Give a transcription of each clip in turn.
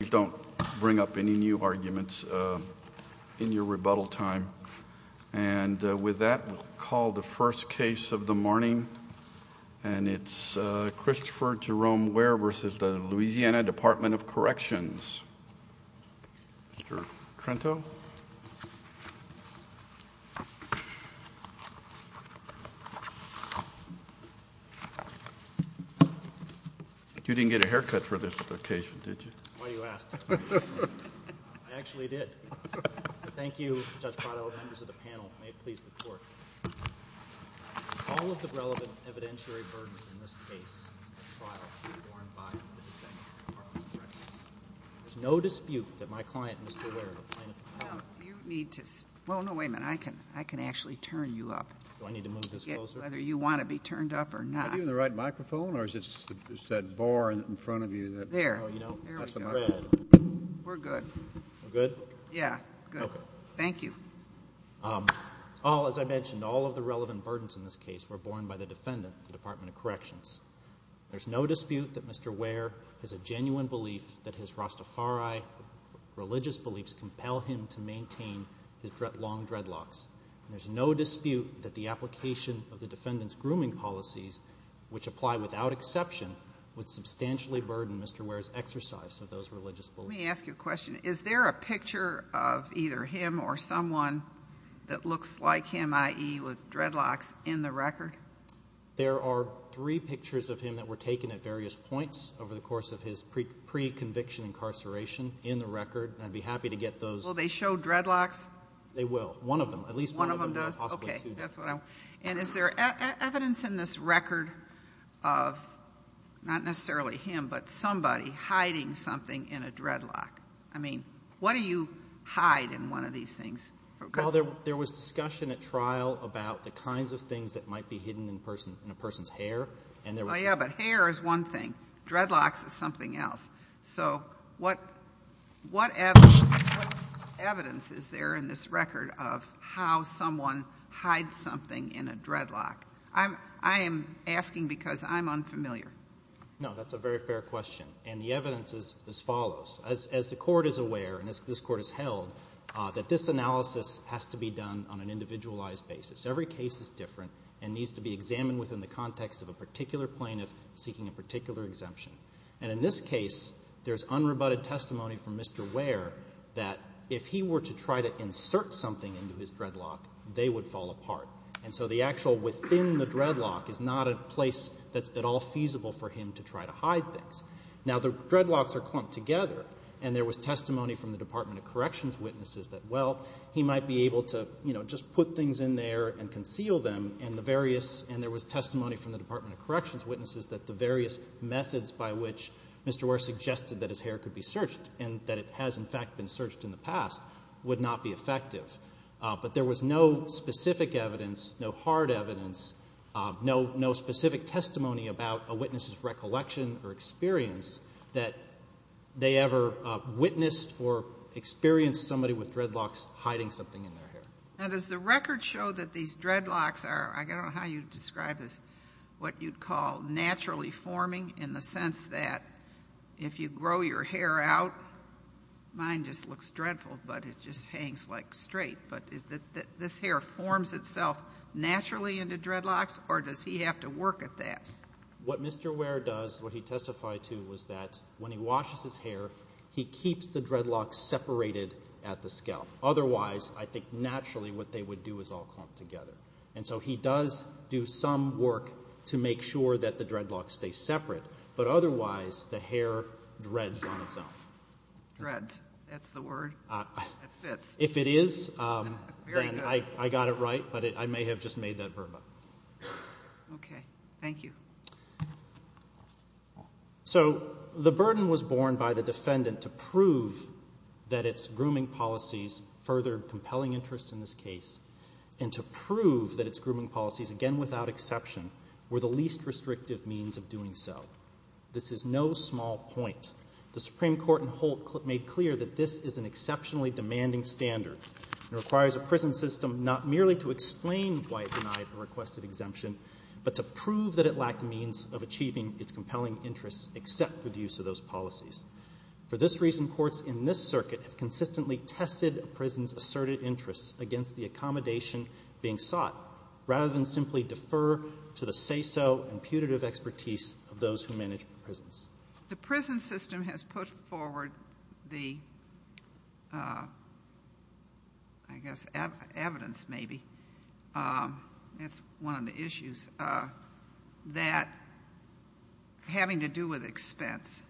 You don't bring up any new arguments in your rebuttal time. And with that, we'll call the first case of the morning. And it's Christopher Jerome Ware v. Louisiana Department of Corrections. Mr. Trento. You didn't get a haircut for this occasion, did you? Why do you ask? I actually did. Thank you, Judge Prado. Members of the panel, may it please the Court. Of all of the relevant evidentiary burdens in this case, there's no dispute that my client, Mr. Ware, complained of. Well, no, wait a minute. I can actually turn you up. Do I need to move this closer? Whether you want to be turned up or not. Have you got the right microphone? Thank you. Thank you. Thank you. Thank you. Thank you. Thank you. Thank you. Thank you. Thank you. Thank you. Thank you. Thank you. Thank you. We're good. We're good? Yeah, good. Okay. Thank you. As I mentioned, all of the relevant burdens in this case were borne by the defendant, the Department of Corrections. There's no dispute that Mr. Ware has a genuine belief that his Rastafari religious beliefs compel him to maintain his long dreadlocks. There's no dispute that the application of the defendant's grooming policies, which apply without exception, would substantially burden Mr. Ware's exercise of those religious beliefs. Let me ask you a question. Is there a picture of either him or someone that looks like him, i.e. with dreadlocks, in the record? There are three pictures of him that were taken at various points over the course of his pre-conviction incarceration in the record, and I'd be happy to get those. Will they show dreadlocks? They will. One of them. At least one of them. One of them does? Possibly two. Okay. And is there evidence in this record of, not necessarily him, but somebody hiding something in a dreadlock? I mean, what do you hide in one of these things? There was discussion at trial about the kinds of things that might be hidden in a person's hair. Oh yeah, but hair is one thing. Dreadlocks is something else. So what evidence is there in this record of how someone hides something in a dreadlock? I am asking because I'm unfamiliar. No, that's a very fair question, and the evidence is as follows. As the Court is aware, and as this Court has held, that this analysis has to be done on an individualized basis. Every case is different and needs to be examined within the context of a particular plaintiff seeking a particular exemption. And in this case, there's unrebutted testimony from Mr. Ware that if he were to try to insert something into his dreadlock, they would fall apart. And so the actual within the dreadlock is not a place that's at all feasible for him to try to hide things. Now the dreadlocks are clumped together, and there was testimony from the Department of Corrections witnesses that, well, he might be able to, you know, just put things in there and conceal them, and there was testimony from the Department of Corrections witnesses that the various methods by which Mr. Ware suggested that his hair could be searched and that it has, in fact, been searched in the past, would not be effective. But there was no specific evidence, no hard evidence, no specific testimony about a witness's recollection or experience that they ever witnessed or experienced somebody with dreadlocks hiding something in their hair. Now does the record show that these dreadlocks are, I don't know how you'd describe this, what you'd call naturally forming in the sense that if you grow your hair out, mine just looks dreadful, but it just hangs like straight, but is that this hair forms itself naturally into dreadlocks, or does he have to work at that? What Mr. Ware does, what he testified to, was that when he washes his hair, he keeps the dreadlocks separated at the scalp. Otherwise, I think naturally what they would do is all clump together. And so he does do some work to make sure that the dreadlocks stay separate, but otherwise the hair dreads on its own. Dreads, that's the word. It fits. If it is, then I got it right, but I may have just made that verb up. Okay, thank you. So the burden was borne by the defendant to prove that its grooming policies furthered that its grooming policies, again without exception, were the least restrictive means of doing so. This is no small point. The Supreme Court in Holt made clear that this is an exceptionally demanding standard and requires a prison system not merely to explain why it denied a requested exemption, but to prove that it lacked the means of achieving its compelling interests except for the use of those policies. For this reason, courts in this circuit have consistently tested a prison's asserted interests against the accommodation being sought rather than simply defer to the say-so and putative expertise of those who manage prisons. The prison system has put forward the, I guess, evidence maybe, that's one of the issues, that having to do with expense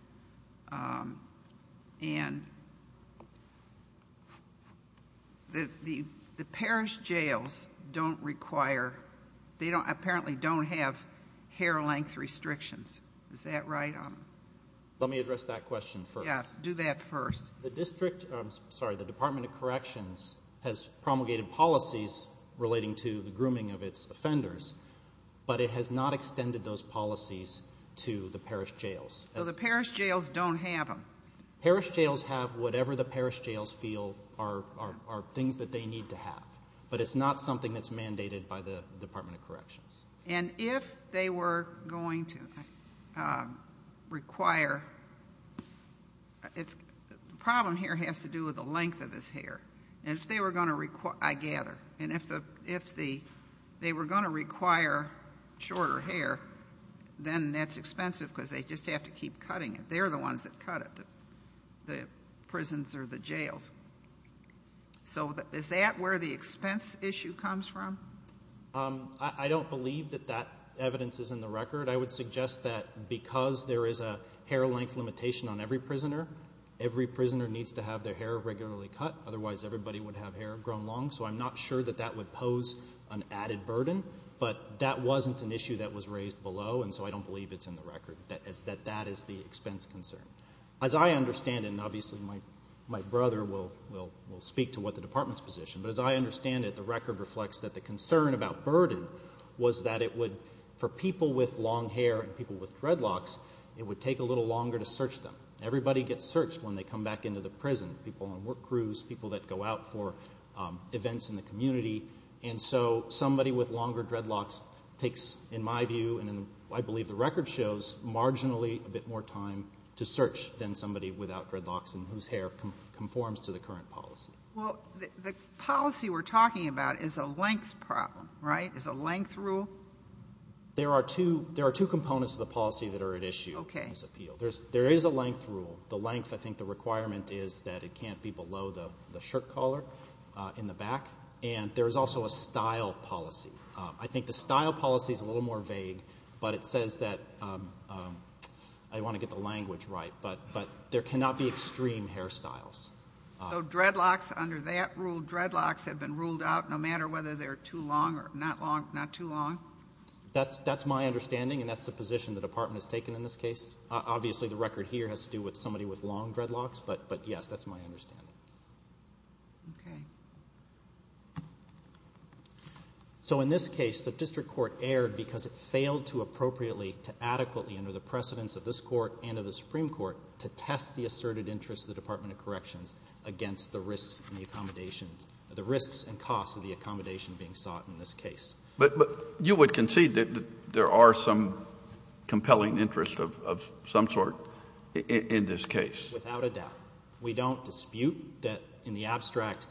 and the parish jails don't require, they apparently don't have hair length restrictions, is that right? Let me address that question first. Do that first. The district, I'm sorry, the Department of Corrections has promulgated policies relating to the grooming of its offenders, but it has not extended those policies to the parish jails. So the parish jails don't have them? Parish jails have whatever the parish jails feel are things that they need to have, but it's not something that's mandated by the Department of Corrections. And if they were going to require, the problem here has to do with the length of his hair, and if they were going to require, I gather, and if they were going to require shorter hair, then that's expensive because they just have to keep cutting it. They're the ones that cut it, the prisons or the jails. So is that where the expense issue comes from? I don't believe that that evidence is in the record. I would suggest that because there is a hair length limitation on every prisoner, every prisoner needs to have their hair regularly cut, otherwise everybody would have hair grown long. So I'm not sure that that would pose an added burden, but that wasn't an issue that was raised below, and so I don't believe it's in the record, that that is the expense concern. As I understand it, and obviously my brother will speak to what the Department's position, but as I understand it, the record reflects that the concern about burden was that it would, for people with long hair and people with dreadlocks, it would take a little longer to search them. Everybody gets searched when they come back into the prison, people on work crews, people that go out for events in the community, and so somebody with longer dreadlocks takes, in my view, and I believe the record shows, marginally a bit more time to search than somebody without dreadlocks and whose hair conforms to the current policy. Well, the policy we're talking about is a length problem, right? It's a length rule? There are two components of the policy that are at issue in this appeal. There is a length rule. The length, I think the requirement is that it can't be below the shirt collar in the back, and there's also a style policy. I think the style policy is a little more vague, but it says that, I want to get the language right, but there cannot be extreme hairstyles. So dreadlocks, under that rule, dreadlocks have been ruled out no matter whether they're too long or not too long? That's my understanding, and that's the position the department has taken in this case. Obviously the record here has to do with somebody with long dreadlocks, but yes, that's my understanding. So in this case, the district court erred because it failed to appropriately, to adequately under the precedence of this court and of the Supreme Court, to test the asserted interests of the Department of Corrections against the risks and the accommodation, the risks and costs of the accommodation being sought in this case. But, but you would concede that there are some compelling interests of some sort in this case? Without a doubt. We don't dispute that in the abstract,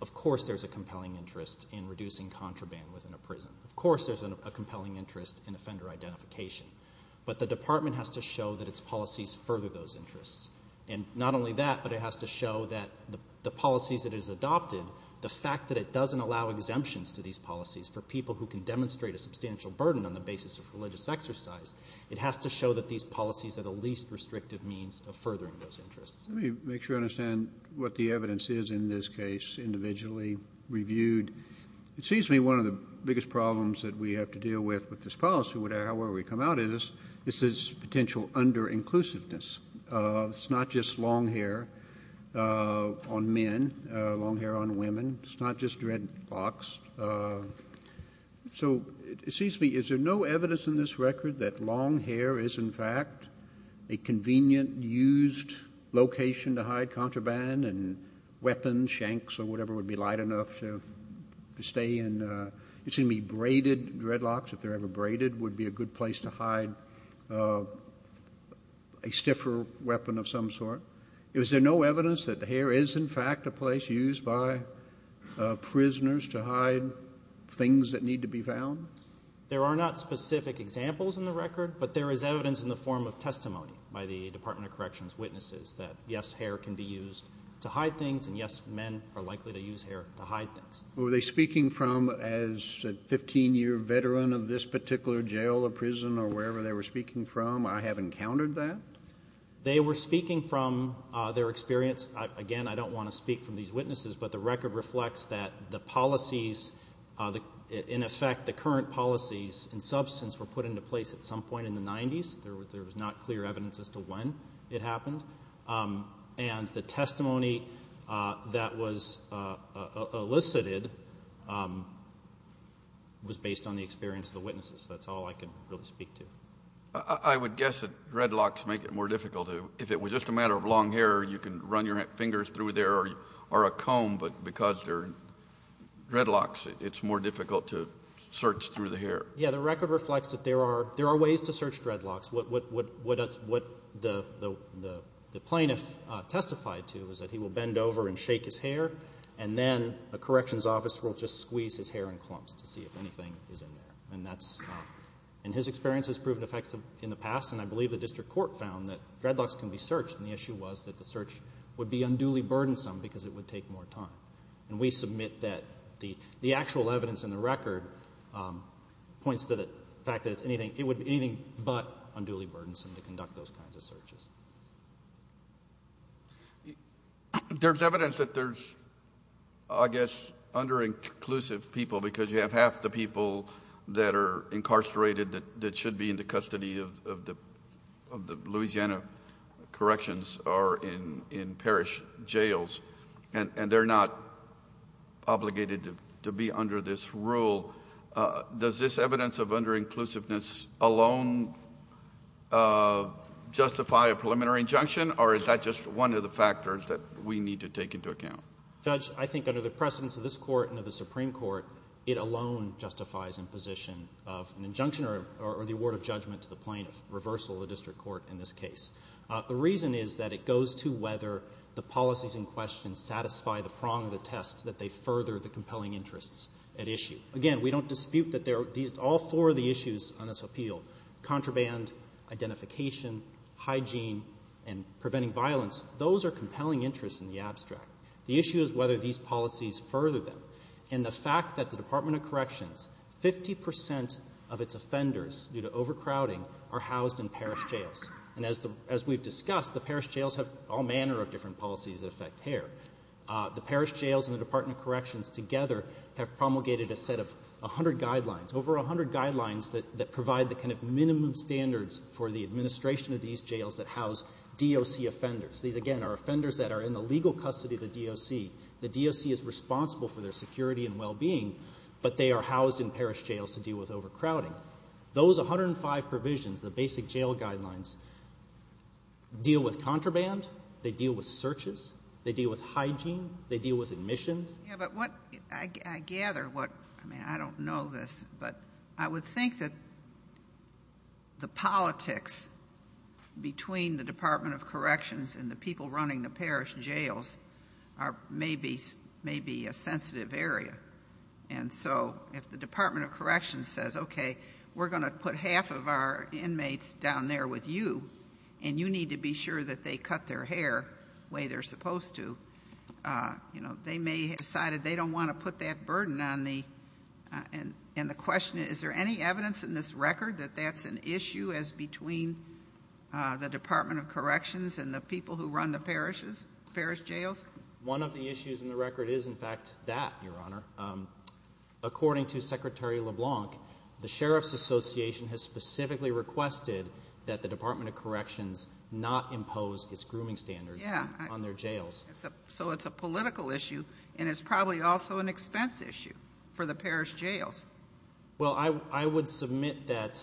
of course there's a compelling interest in reducing contraband within a prison. Of course there's a compelling interest in offender identification, but the department has to show that its policies further those interests, and not only that, but it has to show that the policies that it has adopted, the fact that it doesn't allow exemptions to these policies for people who can demonstrate a substantial burden on the basis of religious exercise. It has to show that these policies are the least restrictive means of furthering those interests. Let me make sure I understand what the evidence is in this case, individually reviewed. It seems to me one of the biggest problems that we have to deal with with this policy, however we come out of this, this is potential under-inclusiveness. It's not just long hair on men, long hair on women. It's not just dreadlocks. So it seems to me, is there no evidence in this record that long hair is in fact a convenient used location to hide contraband and weapons, shanks or whatever would be light enough to stay in, it seems to me braided dreadlocks, if they're ever braided, would be a good place to hide a stiffer weapon of some sort. Is there no evidence that hair is in fact a place used by prisoners to hide things that need to be found? There are not specific examples in the record, but there is evidence in the form of testimony by the Department of Corrections witnesses that yes, hair can be used to hide things and yes, men are likely to use hair to hide things. Were they speaking from, as a 15-year veteran of this particular jail or prison or wherever they were speaking from, I have encountered that? They were speaking from their experience, again, I don't want to speak from these witnesses, but the record reflects that the policies, in effect, the current policies and substance were put into place at some point in the 90s. There was not clear evidence as to when it happened. And the testimony that was elicited was based on the experience of the witnesses. That's all I can really speak to. I would guess that dreadlocks make it more difficult to, if it was just a matter of long hair, you can run your fingers through there or a comb, but because they're dreadlocks, it's more difficult to search through the hair. Yeah, the record reflects that there are ways to search dreadlocks. What the plaintiff testified to is that he will bend over and shake his hair and then a corrections officer will just squeeze his hair in clumps to see if anything is in there. And that's, in his experience, has proven effective in the past, and I believe the district court found that dreadlocks can be searched, and the issue was that the search would be unduly burdensome because it would take more time. And we submit that the actual evidence in the record points to the fact that it would be anything but unduly burdensome to conduct those kinds of searches. There's evidence that there's, I guess, under-inclusive people because you have half the people that are incarcerated that should be in the custody of the Louisiana Corrections are in parish jails, and they're not obligated to be under this rule. Does this evidence of under-inclusiveness alone justify a preliminary injunction, or is that just one of the factors that we need to take into account? Judge, I think under the precedence of this court and of the Supreme Court, it alone justifies imposition of an injunction or the award of judgment to the plaintiff, reversal of the district court in this case. The reason is that it goes to whether the policies in question satisfy the prong of the test that they further the compelling interests at issue. Again, we don't dispute that all four of the issues on this appeal, contraband, identification, hygiene, and preventing violence, those are compelling interests in the abstract. The issue is whether these policies further them, and the fact that the Department of Corrections, 50% of its offenders due to overcrowding are housed in parish jails. As we've discussed, the parish jails have all manner of different policies that affect care. The parish jails and the Department of Corrections together have promulgated a set of 100 guidelines, over 100 guidelines that provide the minimum standards for the administration of these jails that house DOC offenders. These, again, are offenders that are in the legal custody of the DOC. The DOC is responsible for their security and well-being, but they are housed in parish jails to deal with overcrowding. Those 105 provisions, the basic jail guidelines, deal with contraband, they deal with searches, they deal with hygiene, they deal with admissions. Yeah, but what I gather, what, I mean, I don't know this, but I would think that the politics between the Department of Corrections and the people running the parish jails may be a sensitive area. And so, if the Department of Corrections says, okay, we're going to put half of our inmates down there with you, and you need to be sure that they cut their hair the way they're supposed to, you know, they may have decided they don't want to put that burden on the, and the question is, is there any evidence in this record that that's an issue as between the Department of Corrections and the people who run the parishes, parish jails? One of the issues in the record is, in fact, that, Your Honor. According to Secretary LeBlanc, the Sheriff's Association has specifically requested that the Department of Corrections not impose its grooming standards on their jails. So it's a political issue, and it's probably also an expense issue for the parish jails. Well, I would submit that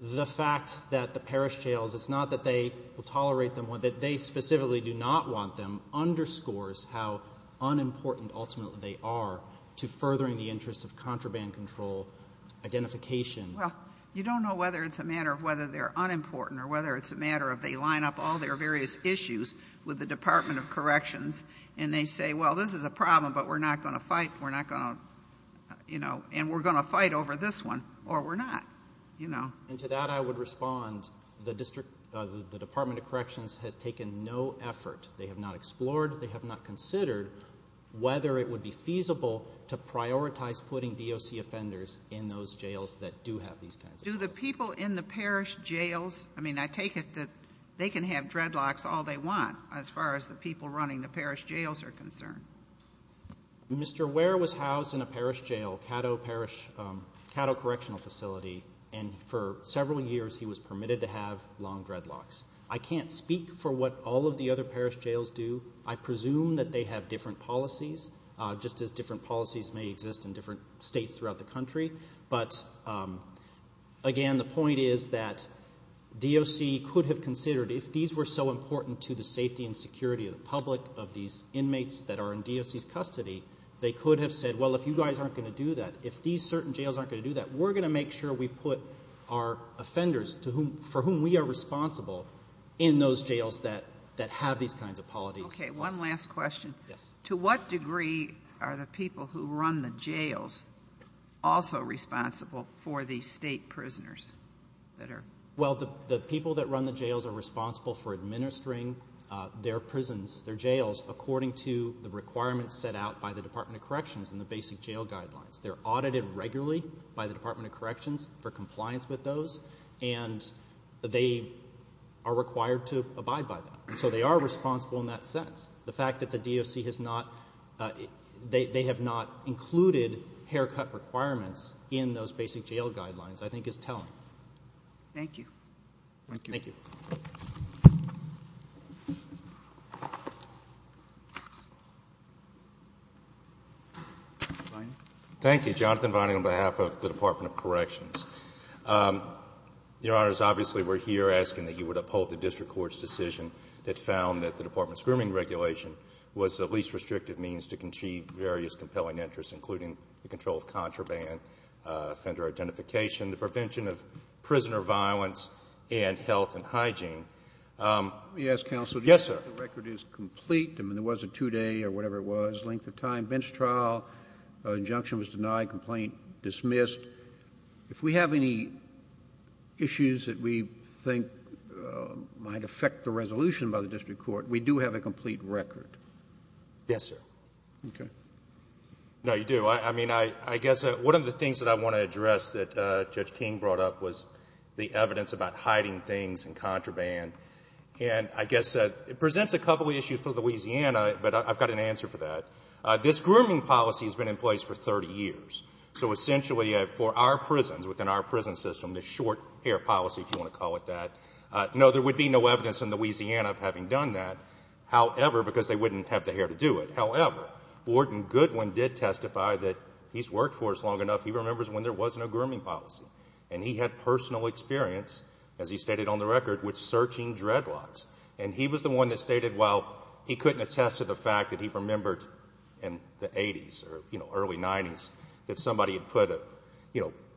the fact that the parish jails, it's not that they will tolerate them, that they specifically do not want them underscores how unimportant, ultimately, they are to furthering the interests of contraband control identification. Well, you don't know whether it's a matter of whether they're unimportant or whether it's a matter of they line up all their various issues with the Department of Corrections and they say, well, this is a problem, but we're not going to fight, we're not going to, you know, and we're going to fight over this one, or we're not, you know. And to that I would respond, the Department of Corrections has taken no effort, they have not explored, they have not considered whether it would be feasible to prioritize putting DOC offenders in those jails that do have these kinds of. Do the people in the parish jails, I mean, I take it that they can have dreadlocks all they want, as far as the people running the parish jails are concerned. Mr. Ware was housed in a parish jail, Caddo Correctional Facility, and for several years he was permitted to have long dreadlocks. I can't speak for what all of the other parish jails do. I presume that they have different policies, just as different policies may exist in different states throughout the country. But again, the point is that DOC could have considered, if these were so important to the safety and security of the public, of these inmates that are in DOC's custody, they could have said, well, if you guys aren't going to do that, if these certain jails aren't going to do that, we're going to make sure we put our offenders for whom we are responsible in those jails that have these kinds of policies. Okay, one last question. Yes. To what degree are the people who run the jails also responsible for the state prisoners that are? Well, the people that run the jails are responsible for administering their prisons, their jails, according to the requirements set out by the Department of Corrections and the basic jail guidelines. They're audited regularly by the Department of Corrections for compliance with those, and they are required to abide by that. So they are responsible in that sense. The fact that the DOC has not, they have not included haircut requirements in those basic jail guidelines, I think is telling. Thank you. Thank you. Thank you, Jonathan Vining on behalf of the Department of Corrections. Your Honors, obviously we're here asking that you would uphold the district court's decision that found that the department's grooming regulation was the least restrictive means to achieve various compelling interests, including the control of contraband, offender identification, the prevention of prisoner violence, and health and hygiene. Let me ask counsel. Yes, sir. The record is complete. I mean, there was a two day or whatever it was, length of time, bench trial, injunction was denied, complaint dismissed. If we have any issues that we think might affect the resolution by the district court, we do have a complete record. Yes, sir. Okay. No, you do. I mean, I guess one of the things that I want to address that Judge King brought up was the evidence about hiding things in contraband. And I guess it presents a couple of issues for Louisiana, but I've got an answer for that. This grooming policy has been in place for 30 years. So essentially, for our prisons, within our prison system, the short hair policy, if you want to call it that. No, there would be no evidence in Louisiana of having done that, however, because they wouldn't have the hair to do it. However, Warden Goodwin did testify that he's worked for us long enough, he remembers when there wasn't a grooming policy. And he had personal experience, as he stated on the record, with searching dreadlocks. And he was the one that stated, while he couldn't attest to the fact that he remembered in the 80s or early 90s, if somebody had put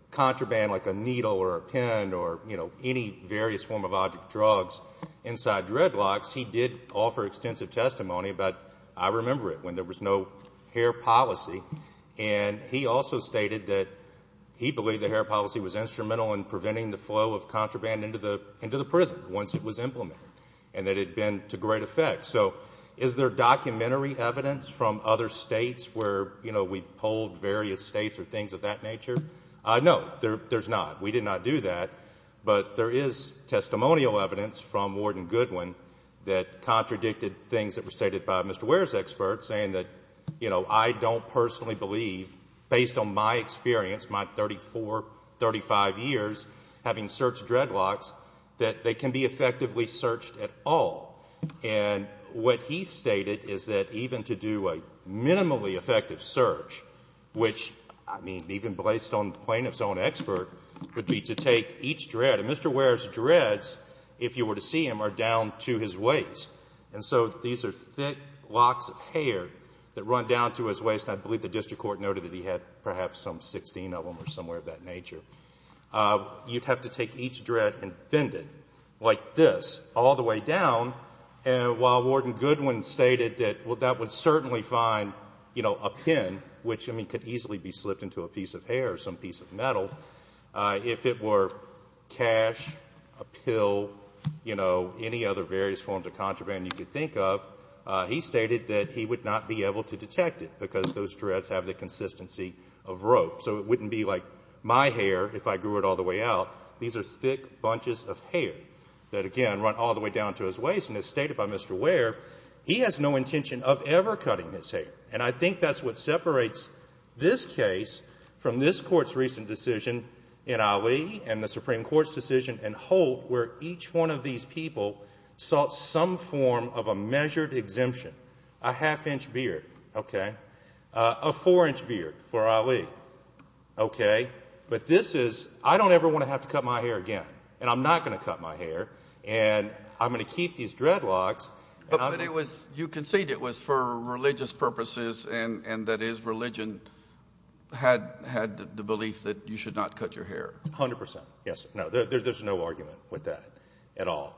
contraband like a needle or a pin or any various form of object drugs inside dreadlocks. He did offer extensive testimony, but I remember it when there was no hair policy. And he also stated that he believed the hair policy was instrumental in preventing the flow of contraband into the prison once it was implemented. And that it had been to great effect. So, is there documentary evidence from other states where we polled various states or things of that nature? No, there's not. We did not do that, but there is testimonial evidence from Warden Goodwin that contradicted things that were stated by Mr. Ware's expert saying that I don't personally believe, based on my experience, my 34, 35 years having searched dreadlocks, that they can be effectively searched at all. And what he stated is that even to do a minimally effective search, which, I mean, even based on plaintiff's own expert, would be to take each dread. And Mr. Ware's dreads, if you were to see him, are down to his waist. And so these are thick locks of hair that run down to his waist. I believe the district court noted that he had perhaps some 16 of them or somewhere of that nature. You'd have to take each dread and bend it like this, all the way down. And while Warden Goodwin stated that, well, that would certainly find, you know, a pin, which, I mean, could easily be slipped into a piece of hair or some piece of metal, if it were cash, a pill, you know, any other various forms of contraband you could think of, he stated that he would not be able to detect it because those dreads have the consistency of rope. So it wouldn't be like my hair if I grew it all the way out. These are thick bunches of hair that, again, run all the way down to his waist. And as stated by Mr. Ware, he has no intention of ever cutting his hair. And I think that's what separates this case from this Court's recent decision in Ali and the Supreme Court's decision in Holt, where each one of these people sought some form of a measured exemption, a half-inch beard, okay, a four-inch beard for Ali, okay. But this is, I don't ever want to have to cut my hair again. And I'm not going to cut my hair. And I'm going to keep these dreadlocks. But it was, you conceded it was for religious purposes, and that is religion had the belief that you should not cut your hair. A hundred percent. Yes. No, there's no argument with that at all.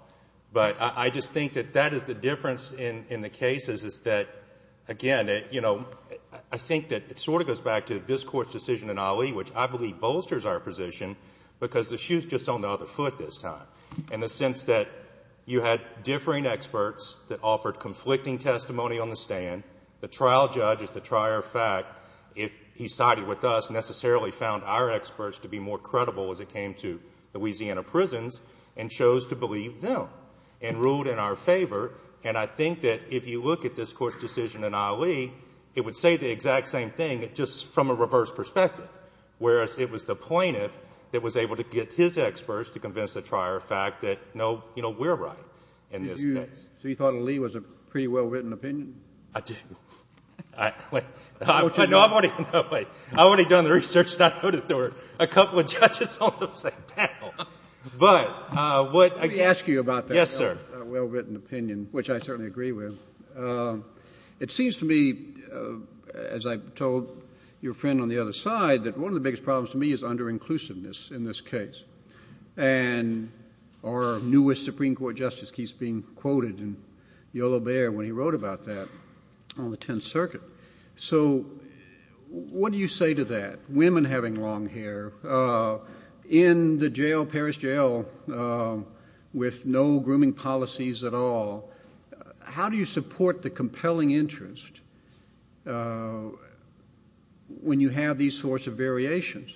But I just think that that is the difference in the cases is that, again, you know, I think that it sort of goes back to this Court's decision in Ali, which I believe bolsters our position, because the shoe's just on the other foot this time, in the sense that you had differing experts that offered conflicting testimony on the stand. The trial judge is the trier of fact, if he sided with us, necessarily found our experts to be more and ruled in our favor. And I think that if you look at this Court's decision in Ali, it would say the exact same thing, just from a reverse perspective, whereas it was the plaintiff that was able to get his experts to convince the trier of fact that, no, you know, we're right in this case. So you thought Ali was a pretty well-written opinion? I do. I've already done the research, and I know that there were a couple of judges on the same panel. But what— Let me ask you about that well-written opinion, which I certainly agree with. It seems to me, as I told your friend on the other side, that one of the biggest problems to me is under-inclusiveness in this case. And our newest Supreme Court justice keeps being quoted in Yolo Bair when he wrote about that on the Tenth Circuit. So what do you say to that? I mean, you have women having long hair in the jail, Paris Jail, with no grooming policies at all. How do you support the compelling interest when you have these sorts of variations?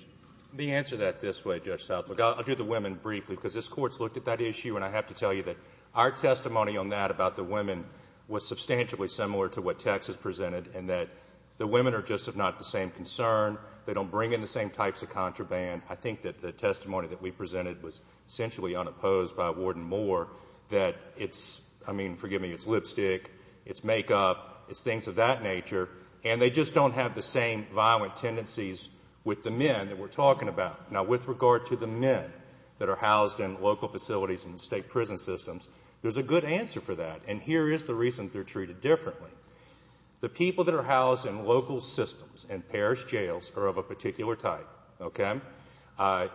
Let me answer that this way, Judge Southwood. I'll do the women briefly, because this Court's looked at that issue, and I have to tell you that our testimony on that, about the women, was substantially similar to what Texas presented, in that the women are just, if not the same, concerned. They don't bring in the same types of contraband. I think that the testimony that we presented was essentially unopposed by Warden Moore, that it's, I mean, forgive me, it's lipstick, it's makeup, it's things of that nature, and they just don't have the same violent tendencies with the men that we're talking about. Now, with regard to the men that are housed in local facilities and state prison systems, there's a good answer for that. And here is the reason they're treated differently. The people that are housed in local systems and parish jails are of a particular type, okay?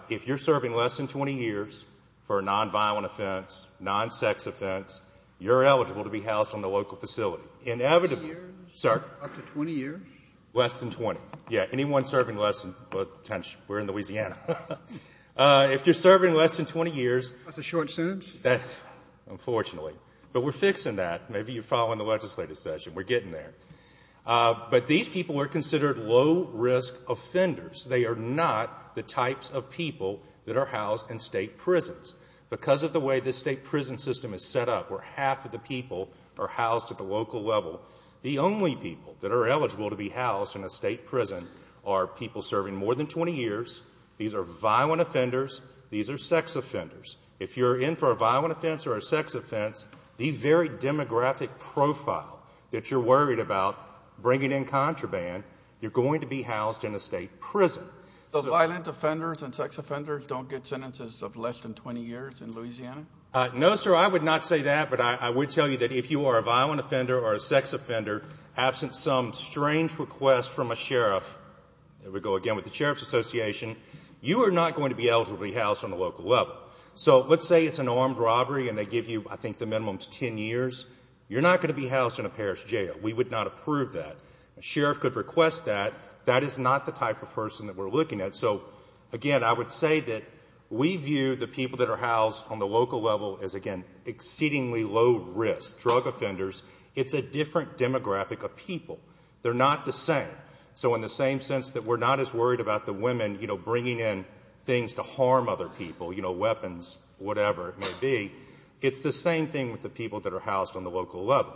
If you're serving less than 20 years for a non-violent offense, non-sex offense, you're eligible to be housed on the local facility. Up to 20 years? Less than 20, yeah. Anyone serving less than, well, we're in Louisiana. If you're serving less than 20 years. That's a short sentence? Unfortunately. But we're fixing that. Maybe you're following the legislative session. We're getting there. But these people are considered low-risk offenders. They are not the types of people that are housed in state prisons. Because of the way this state prison system is set up, where half of the people are housed at the local level, the only people that are eligible to be housed in a state prison are people serving more than 20 years. These are violent offenders. These are sex offenders. If you're in for a violent offense or a sex offense, the very demographic profile that you're worried about bringing in contraband, you're going to be housed in a state prison. So violent offenders and sex offenders don't get sentences of less than 20 years in Louisiana? No, sir. I would not say that. But I would tell you that if you are a violent offender or a sex offender, absent some strange request from a sheriff, there we go again with the Sheriff's Association, you are not going to be eligible to be housed on the local level. Let's say it's an armed robbery and they give you, I think, the minimum is 10 years. You're not going to be housed in a parish jail. We would not approve that. A sheriff could request that. That is not the type of person that we're looking at. Again, I would say that we view the people that are housed on the local level as, again, exceedingly low-risk drug offenders. It's a different demographic of people. They're not the same. You know, weapons, whatever it may be. It's the same thing with the people that are housed on the local level.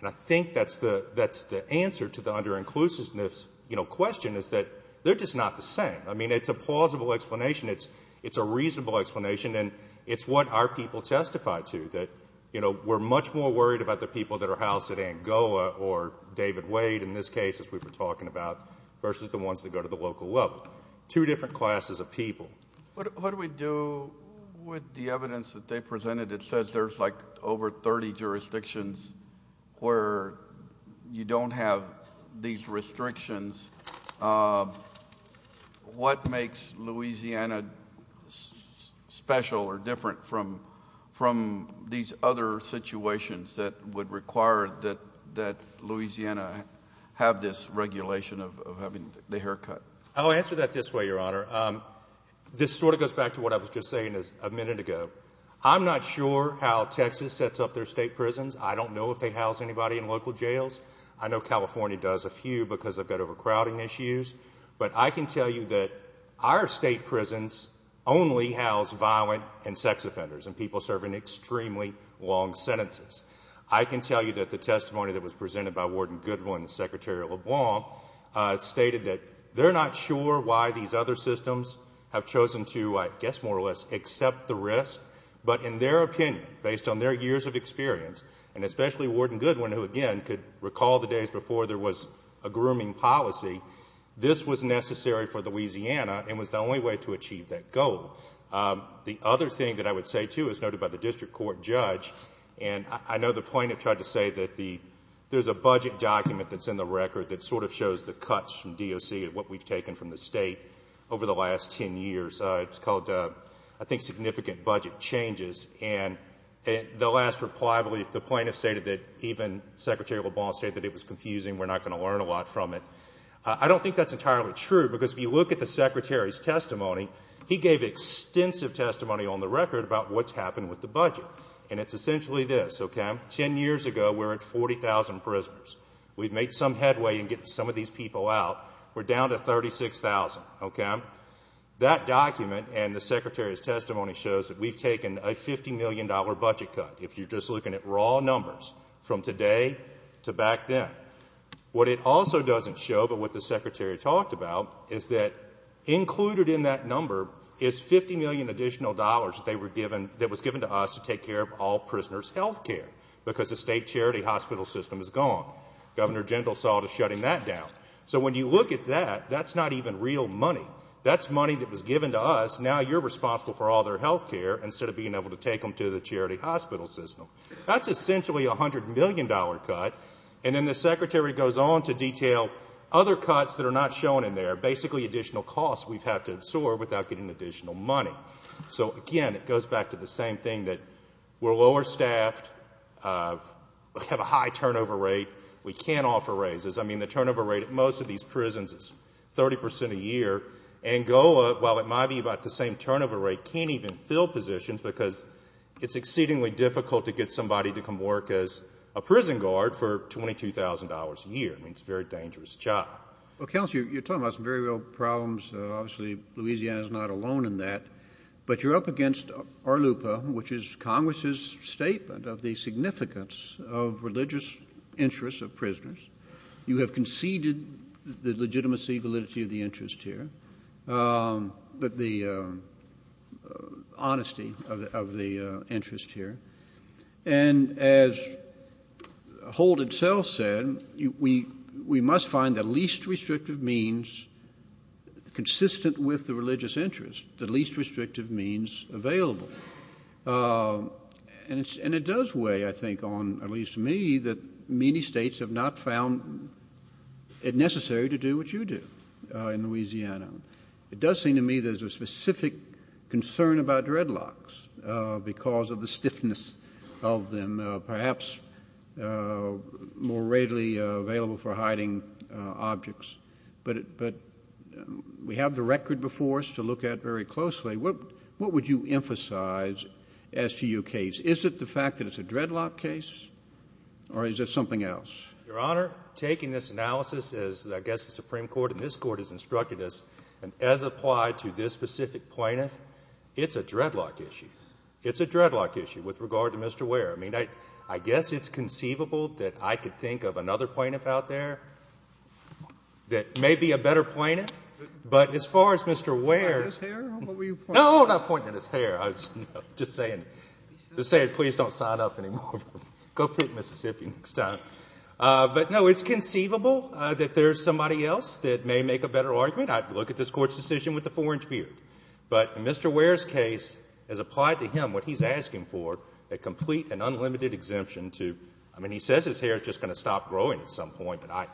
And I think that's the answer to the under-inclusiveness, you know, question is that they're just not the same. I mean, it's a plausible explanation. It's a reasonable explanation. And it's what our people testify to, that, you know, we're much more worried about the people that are housed at Angola or David Wade in this case, as we were talking about, versus the ones that go to the local level. Two different classes of people. What do we do with the evidence that they presented that says there's, like, over 30 jurisdictions where you don't have these restrictions? What makes Louisiana special or different from these other situations that would require that Louisiana have this regulation of having the haircut? I'll answer that this way, Your Honor. This sort of goes back to what I was just saying a minute ago. I'm not sure how Texas sets up their state prisons. I don't know if they house anybody in local jails. I know California does a few because they've got overcrowding issues. But I can tell you that our state prisons only house violent and sex offenders and people serving extremely long sentences. I can tell you that the testimony that was presented by Warden Goodwin and Secretary LeBlanc stated that they're not sure why these other systems have chosen to, I guess, more or less, accept the risk. But in their opinion, based on their years of experience, and especially Warden Goodwin, who, again, could recall the days before there was a grooming policy, this was necessary for Louisiana and was the only way to achieve that goal. The other thing that I would say, too, as noted by the district court judge, and I know the plaintiff tried to say that there's a budget document that's in the record that sort of shows the cuts from DOC and what we've taken from the state over the last 10 years. It's called, I think, Significant Budget Changes. And the last reply, I believe, the plaintiff stated that even Secretary LeBlanc stated that it was confusing, we're not going to learn a lot from it. I don't think that's entirely true because if you look at the Secretary's testimony, he gave extensive testimony on the record about what's happened with the budget. And it's essentially this, okay? Ten years ago, we were at 40,000 prisoners. We've made some headway in getting some of these people out. We're down to 36,000, okay? That document and the Secretary's testimony shows that we've taken a $50 million budget cut, if you're just looking at raw numbers from today to back then. What it also doesn't show, but what the Secretary talked about, is that included in that number is $50 million additional dollars that was given to us to take care of all prisoners' health care because the state charity hospital system is gone. Governor Jindal saw to shutting that down. So when you look at that, that's not even real money. That's money that was given to us. Now you're responsible for all their health care instead of being able to take them to the charity hospital system. That's essentially a $100 million cut. And then the Secretary goes on to detail other cuts that are not shown in there, basically additional costs we've had to absorb without getting additional money. So again, it goes back to the same thing that we're lower staffed, we have a high turnover rate, we can't offer raises. I mean, the turnover rate at most of these prisons is 30% a year. Angola, while it might be about the same turnover rate, can't even fill positions because it's exceedingly difficult to get somebody to come work as a prison guard for $22,000 a year. I mean, it's a very dangerous job. Well, Counselor, you're talking about some very real problems. Obviously, Louisiana is not alone in that. But you're up against ARLUPA, which is Congress's statement of the significance of religious interests of prisoners. You have conceded the legitimacy, validity of the interest here, but the honesty of the interest here. And as Holt itself said, we must find the least restrictive means consistent with the religious interest, the least restrictive means available. And it does weigh, I think, on, at least to me, that many states have not found it necessary to do what you do in Louisiana. It does seem to me there's a specific concern about dreadlocks because of the stiffness of them, perhaps more readily available for hiding objects. But we have the record before us to look at very closely. What would you emphasize as to your case? Is it the fact that it's a dreadlock case, or is it something else? Your Honor, taking this analysis as, I guess, the Supreme Court and this Court has and as applied to this specific plaintiff, it's a dreadlock issue. It's a dreadlock issue with regard to Mr. Ware. I mean, I guess it's conceivable that I could think of another plaintiff out there that may be a better plaintiff. But as far as Mr. Ware... Pointing at his hair? Or what were you pointing at? No, I'm not pointing at his hair. I was just saying, please don't sign up anymore. Go pick Mississippi next time. But no, it's conceivable that there's somebody else that may make a better argument. I'd look at this Court's decision with a four-inch beard. But in Mr. Ware's case, as applied to him, what he's asking for, a complete and unlimited exemption to... I mean, he says his hair is just going to stop growing at some point, and I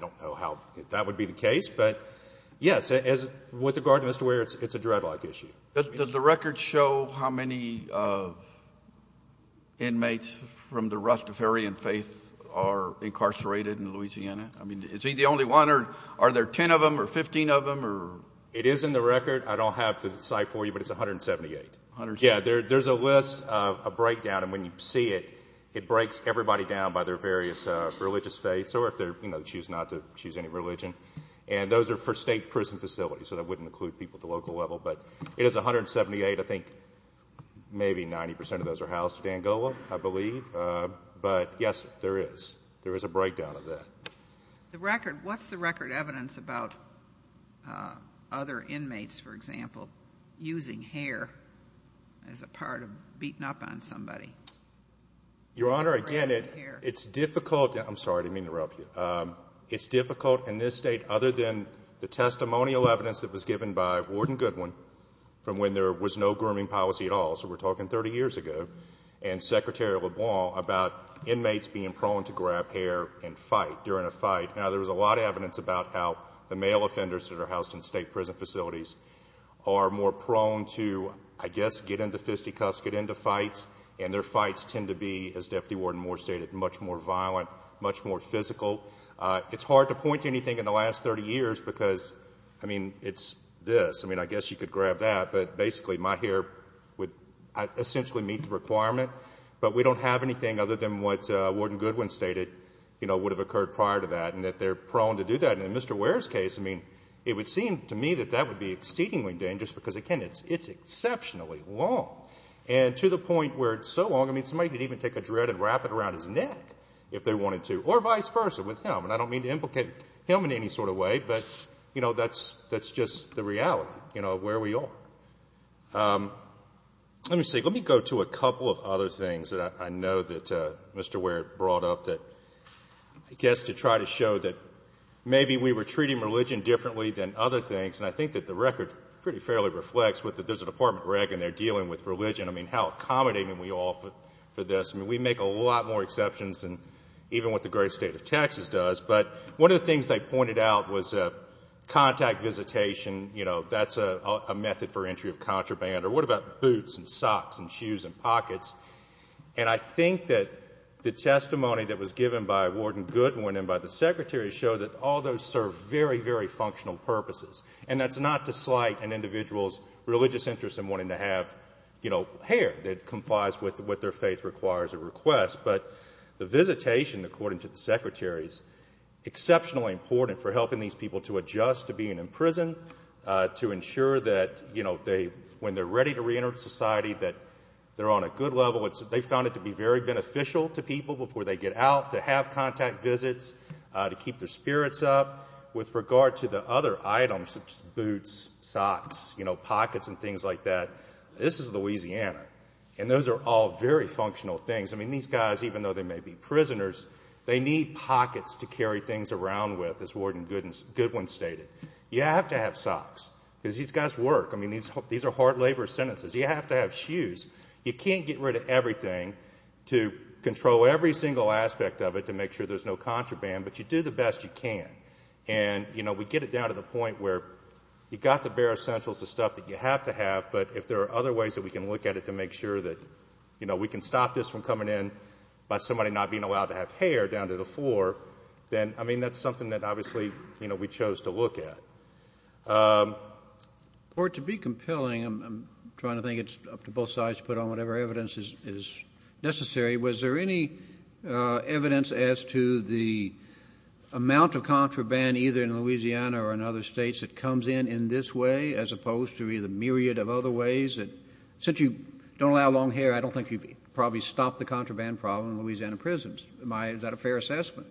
don't know how that would be the case. But yes, with regard to Mr. Ware, it's a dreadlock issue. Does the record show how many inmates from the Rastafarian faith are incarcerated in Louisiana? I mean, is he the only one? Are there 10 of them or 15 of them? It is in the record. I don't have the site for you, but it's 178. There's a list, a breakdown, and when you see it, it breaks everybody down by their various religious faiths, or if they choose not to choose any religion. And those are for state prison facilities, so that wouldn't include people at the local level. But it is 178. I think maybe 90% of those are housed in Angola, I believe. But yes, there is. There is a breakdown of that. The record, what's the record evidence about other inmates, for example, using hair as a part of beating up on somebody? Your Honor, again, it's difficult. I'm sorry, I didn't mean to interrupt you. It's difficult in this state, other than the testimonial evidence that was given by Warden Goodwin, from when there was no grooming policy at all, so we're talking 30 years ago, and Secretary LeBlanc about inmates being prone to grab hair and fight during a fight. Now, there was a lot of evidence about how the male offenders that are housed in state prison facilities are more prone to, I guess, get into fisticuffs, get into fights, and their fights tend to be, as Deputy Warden Moore stated, much more violent, much more physical. It's hard to point to anything in the last 30 years because, I mean, it's this. I mean, I guess you could grab that, but basically my hair would essentially meet the requirement. But we don't have anything other than what Warden Goodwin stated, would have occurred prior to that, and that they're prone to do that. And in Mr. Ware's case, I mean, it would seem to me that that would be exceedingly dangerous because, again, it's exceptionally long. And to the point where it's so long, I mean, somebody could even take a dread and wrap it around his neck if they wanted to, or vice versa with him. And I don't mean to implicate him in any sort of way, but that's just the reality of where we are. Let me go to a couple of other things that I know that Mr. Ware brought up I guess to try to show that maybe we were treating religion differently than other things. And I think that the record pretty fairly reflects that there's a Department of Reg and they're dealing with religion. I mean, how accommodating we are for this. I mean, we make a lot more exceptions than even what the great state of Texas does. But one of the things they pointed out was contact visitation. You know, that's a method for entry of contraband. Or what about boots and socks and shoes and pockets? And I think that the testimony that was given by Warden Goodwin and by the Secretary showed that all those serve very, very functional purposes. And that's not to slight an individual's religious interest in wanting to have hair that complies with what their faith requires or requests. But the visitation, according to the Secretary, is exceptionally important for helping these people to adjust to being in prison, to ensure that when they're ready to reenter society that they're on a good level. They found it to be very beneficial to people before they get out, to have contact visits, to keep their spirits up. With regard to the other items, such as boots, socks, you know, pockets and things like that, this is Louisiana. And those are all very functional things. I mean, these guys, even though they may be prisoners, they need pockets to carry things around with, as Warden Goodwin stated. You have to have socks because these guys work. I mean, these are hard labor sentences. You have to have shoes. You can't get rid of everything to control every single aspect of it to make sure there's no contraband. But you do the best you can. And, you know, we get it down to the point where you've got the bare essentials of stuff that you have to have. But if there are other ways that we can look at it to make sure that, you know, we can stop this from coming in by somebody not being allowed to have hair down to the floor, then, I mean, that's something that obviously, you know, we chose to look at. Or to be compelling, I'm trying to think it's up to both sides to put on whatever evidence is necessary, was there any evidence as to the amount of contraband either in Louisiana or in other states that comes in in this way as opposed to either myriad of other ways that since you don't allow long hair, I don't think you've probably stopped the contraband problem in Louisiana prisons. Is that a fair assessment?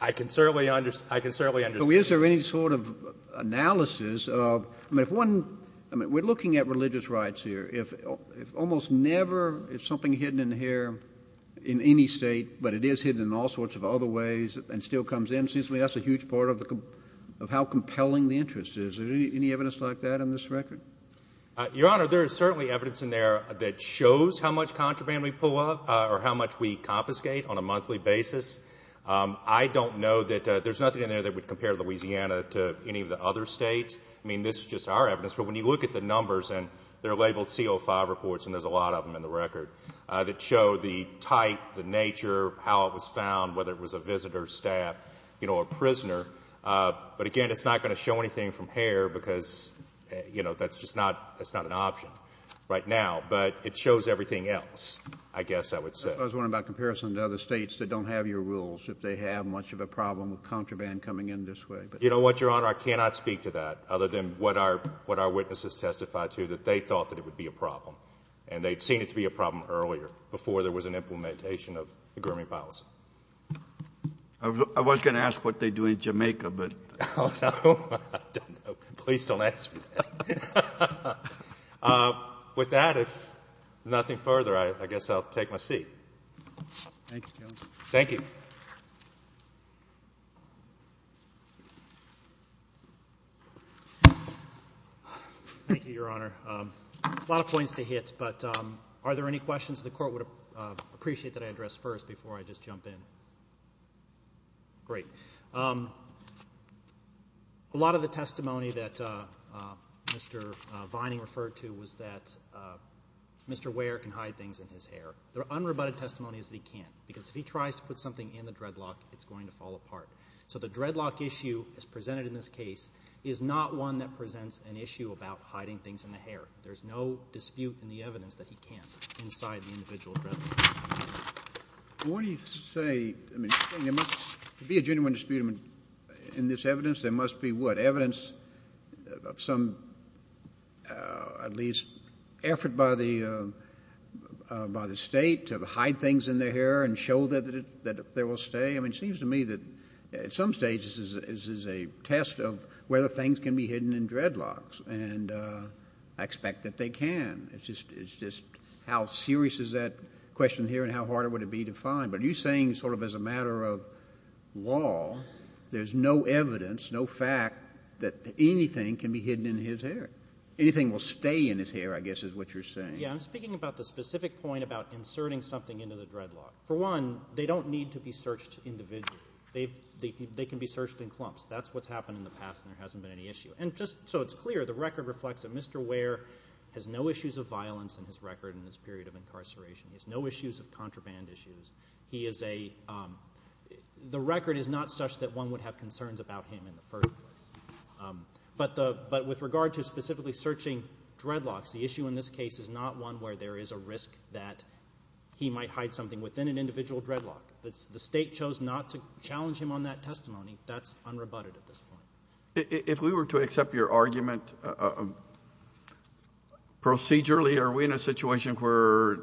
I can certainly understand. Is there any sort of analysis of, I mean, if one, I mean, we're looking at religious rights here. If almost never is something hidden in hair in any state, but it is hidden in all sorts of other ways and still comes in, it seems to me that's a huge part of how compelling the interest is. Is there any evidence like that in this record? Your Honor, there is certainly evidence in there that shows how much contraband we pull up or how much we confiscate on a monthly basis. I don't know that there's nothing in there that would compare Louisiana to any of the other states. I mean, this is just our evidence, but when you look at the numbers and they're labeled CO5 reports, and there's a lot of them in the record that show the type, the nature, how it was found, whether it was a visitor, staff, you know, a prisoner. But again, it's not going to show anything from hair because, you know, that's just not, that's not an option right now, but it shows everything else, I guess I would say. I was wondering about comparison to other states that don't have your rules, if they have much of a problem with contraband coming in this way. You know what, Your Honor, I cannot speak to that other than what our witnesses testified to, that they thought that it would be a problem and they'd seen it to be a problem earlier before there was an implementation of the Gurmey policy. I was going to ask what they do in Jamaica, but... Oh, no, I don't know. Please don't ask me that. With that, if nothing further, I guess I'll take my seat. Thank you, counsel. Thank you. Thank you, Your Honor. A lot of points to hit, but are there any questions the Court would appreciate that I address first before I just jump in? Great. A lot of the testimony that Mr. Vining referred to was that Mr. Ware can hide things in his hair. There are unrebutted testimonies that he can't, because if he tries to put something in the dreadlock, it's going to fall apart. So the dreadlock issue, as presented in this case, is not one that presents an issue about hiding things in the hair. There's no dispute in the evidence that he can't inside the individual dreadlock. I want to say, I mean, there must be a genuine dispute in this evidence. There must be what? Evidence of some, at least, effort by the state to hide things in their hair and show that they will stay? It seems to me that, at some stage, this is a test of whether things can be hidden in dreadlocks, and I expect that they can. It's just how serious is that question here, and how hard would it be to find? But are you saying, as a matter of law, there's no evidence, no fact, that anything can be hidden in his hair? Anything will stay in his hair, I guess, is what you're saying. Yeah, I'm speaking about the specific point about inserting something into the dreadlock. For one, they don't need to be searched individually. They can be searched in clumps. That's what's happened in the past, and there hasn't been any issue. And just so it's clear, the record reflects that Mr. Ware has no issues of violence in his record in this period of incarceration. He has no issues of contraband issues. The record is not such that one would have concerns about him in the first place. But with regard to specifically searching dreadlocks, the issue in this case is not one where there is a risk that he might hide something within an individual dreadlock. The state chose not to challenge him on that testimony. That's unrebutted at this point. If we were to accept your argument, procedurally, are we in a situation where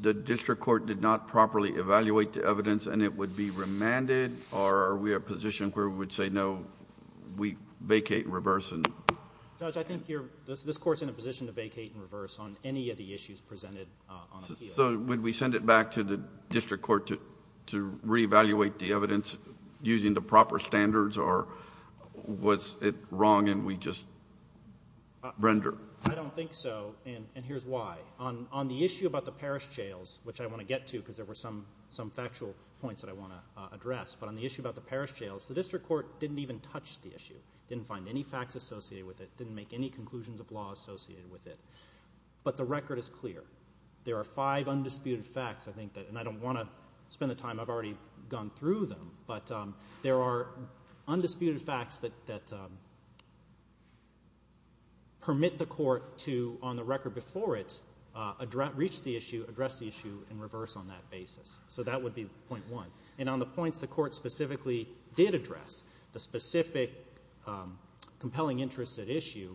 the district court did not properly evaluate the evidence and it would be remanded? Or are we in a position where we would say, no, we vacate in reverse? Judge, I think this court's in a position to vacate in reverse on any of the issues presented on appeal. Would we send it back to the district court to re-evaluate the evidence using the proper standards? Or was it wrong and we just render? I don't think so. And here's why. On the issue about the parish jails, which I want to get to because there were some factual points that I want to address. But on the issue about the parish jails, the district court didn't even touch the issue, didn't find any facts associated with it, didn't make any conclusions of law associated with it. But the record is clear. There are five undisputed facts. I think that, and I don't want to spend the time, I've already gone through them. But there are undisputed facts that permit the court to, on the record before it, reach the issue, address the issue in reverse on that basis. So that would be point one. And on the points the court specifically did address, the specific compelling interest at issue,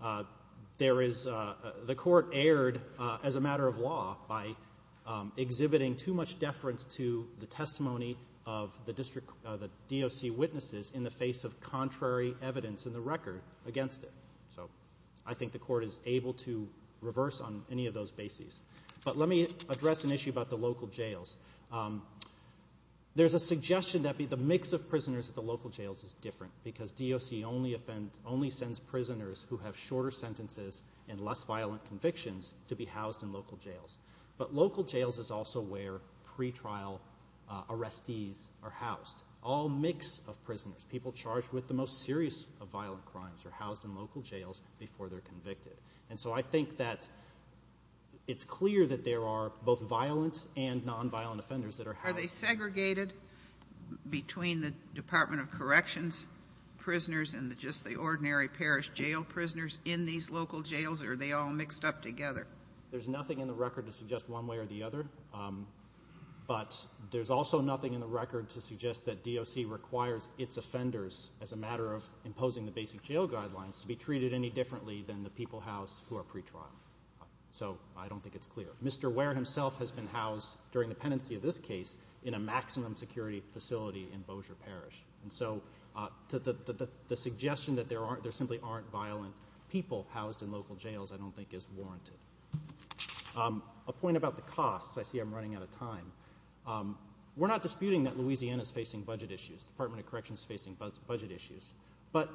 the court erred as a matter of law by exhibiting too much deference to the testimony of the DOC witnesses in the face of contrary evidence in the record against it. So I think the court is able to reverse on any of those bases. But let me address an issue about the local jails. There's a suggestion that the mix of prisoners at the local jails is different because DOC only sends prisoners who have shorter sentences and less violent convictions to be housed in local jails. But local jails is also where pre-trial arrestees are housed. All mix of prisoners, people charged with the most serious of violent crimes are housed in local jails before they're convicted. And so I think that it's clear that there are both violent and nonviolent offenders that are housed. Are they segregated between the Department of Corrections prisoners and just the ordinary parish jail prisoners in these local jails? Or are they all mixed up together? There's nothing in the record to suggest one way or the other. But there's also nothing in the record to suggest that DOC requires its offenders, as a matter of imposing the basic jail guidelines, to be treated any differently than the people housed who are pre-trial. So I don't think it's clear. Mr. Ware himself has been housed, during the pendency of this case, in a maximum security facility in Bossier Parish. And so the suggestion that there simply aren't violent people housed in local jails, I don't think, is warranted. A point about the costs. I see I'm running out of time. We're not disputing that Louisiana is facing budget issues. The Department of Corrections is facing budget issues. But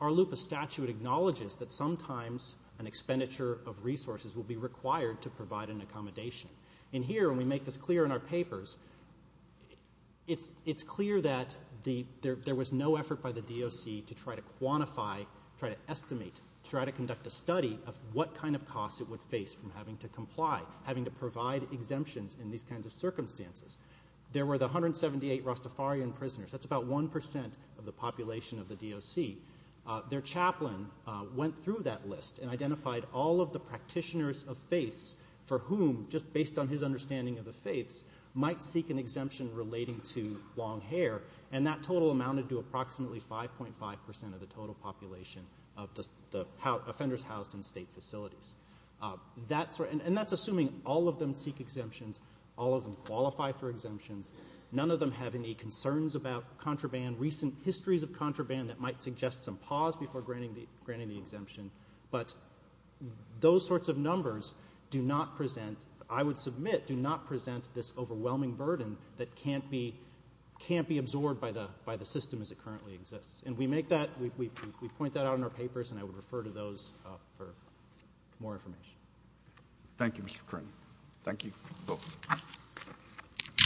our loop of statute acknowledges that sometimes an expenditure of resources will be required to provide an accommodation. And here, when we make this clear in our papers, it's clear that there was no effort by the DOC to try to quantify, try to estimate, try to conduct a study of what kind of costs it would face from having to comply, having to provide exemptions in these kinds of circumstances. There were the 178 Rastafarian prisoners. That's about 1% of the population of the DOC. Their chaplain went through that list and identified all of the practitioners of faiths for whom, just based on his understanding of the faiths, might seek an exemption relating to long hair. And that total amounted to approximately 5.5% of the total population of the offenders housed in state facilities. And that's assuming all of them seek exemptions, all of them qualify for exemptions, none of them have any concerns about contraband, recent histories of contraband that might suggest some pause before granting the exemption. But those sorts of numbers do not present, I would submit, this overwhelming burden that can't be absorbed by the system as it currently exists. And we make that, we point that out in our papers, and I would refer to those for more information. Thank you, Mr. Curran. Thank you.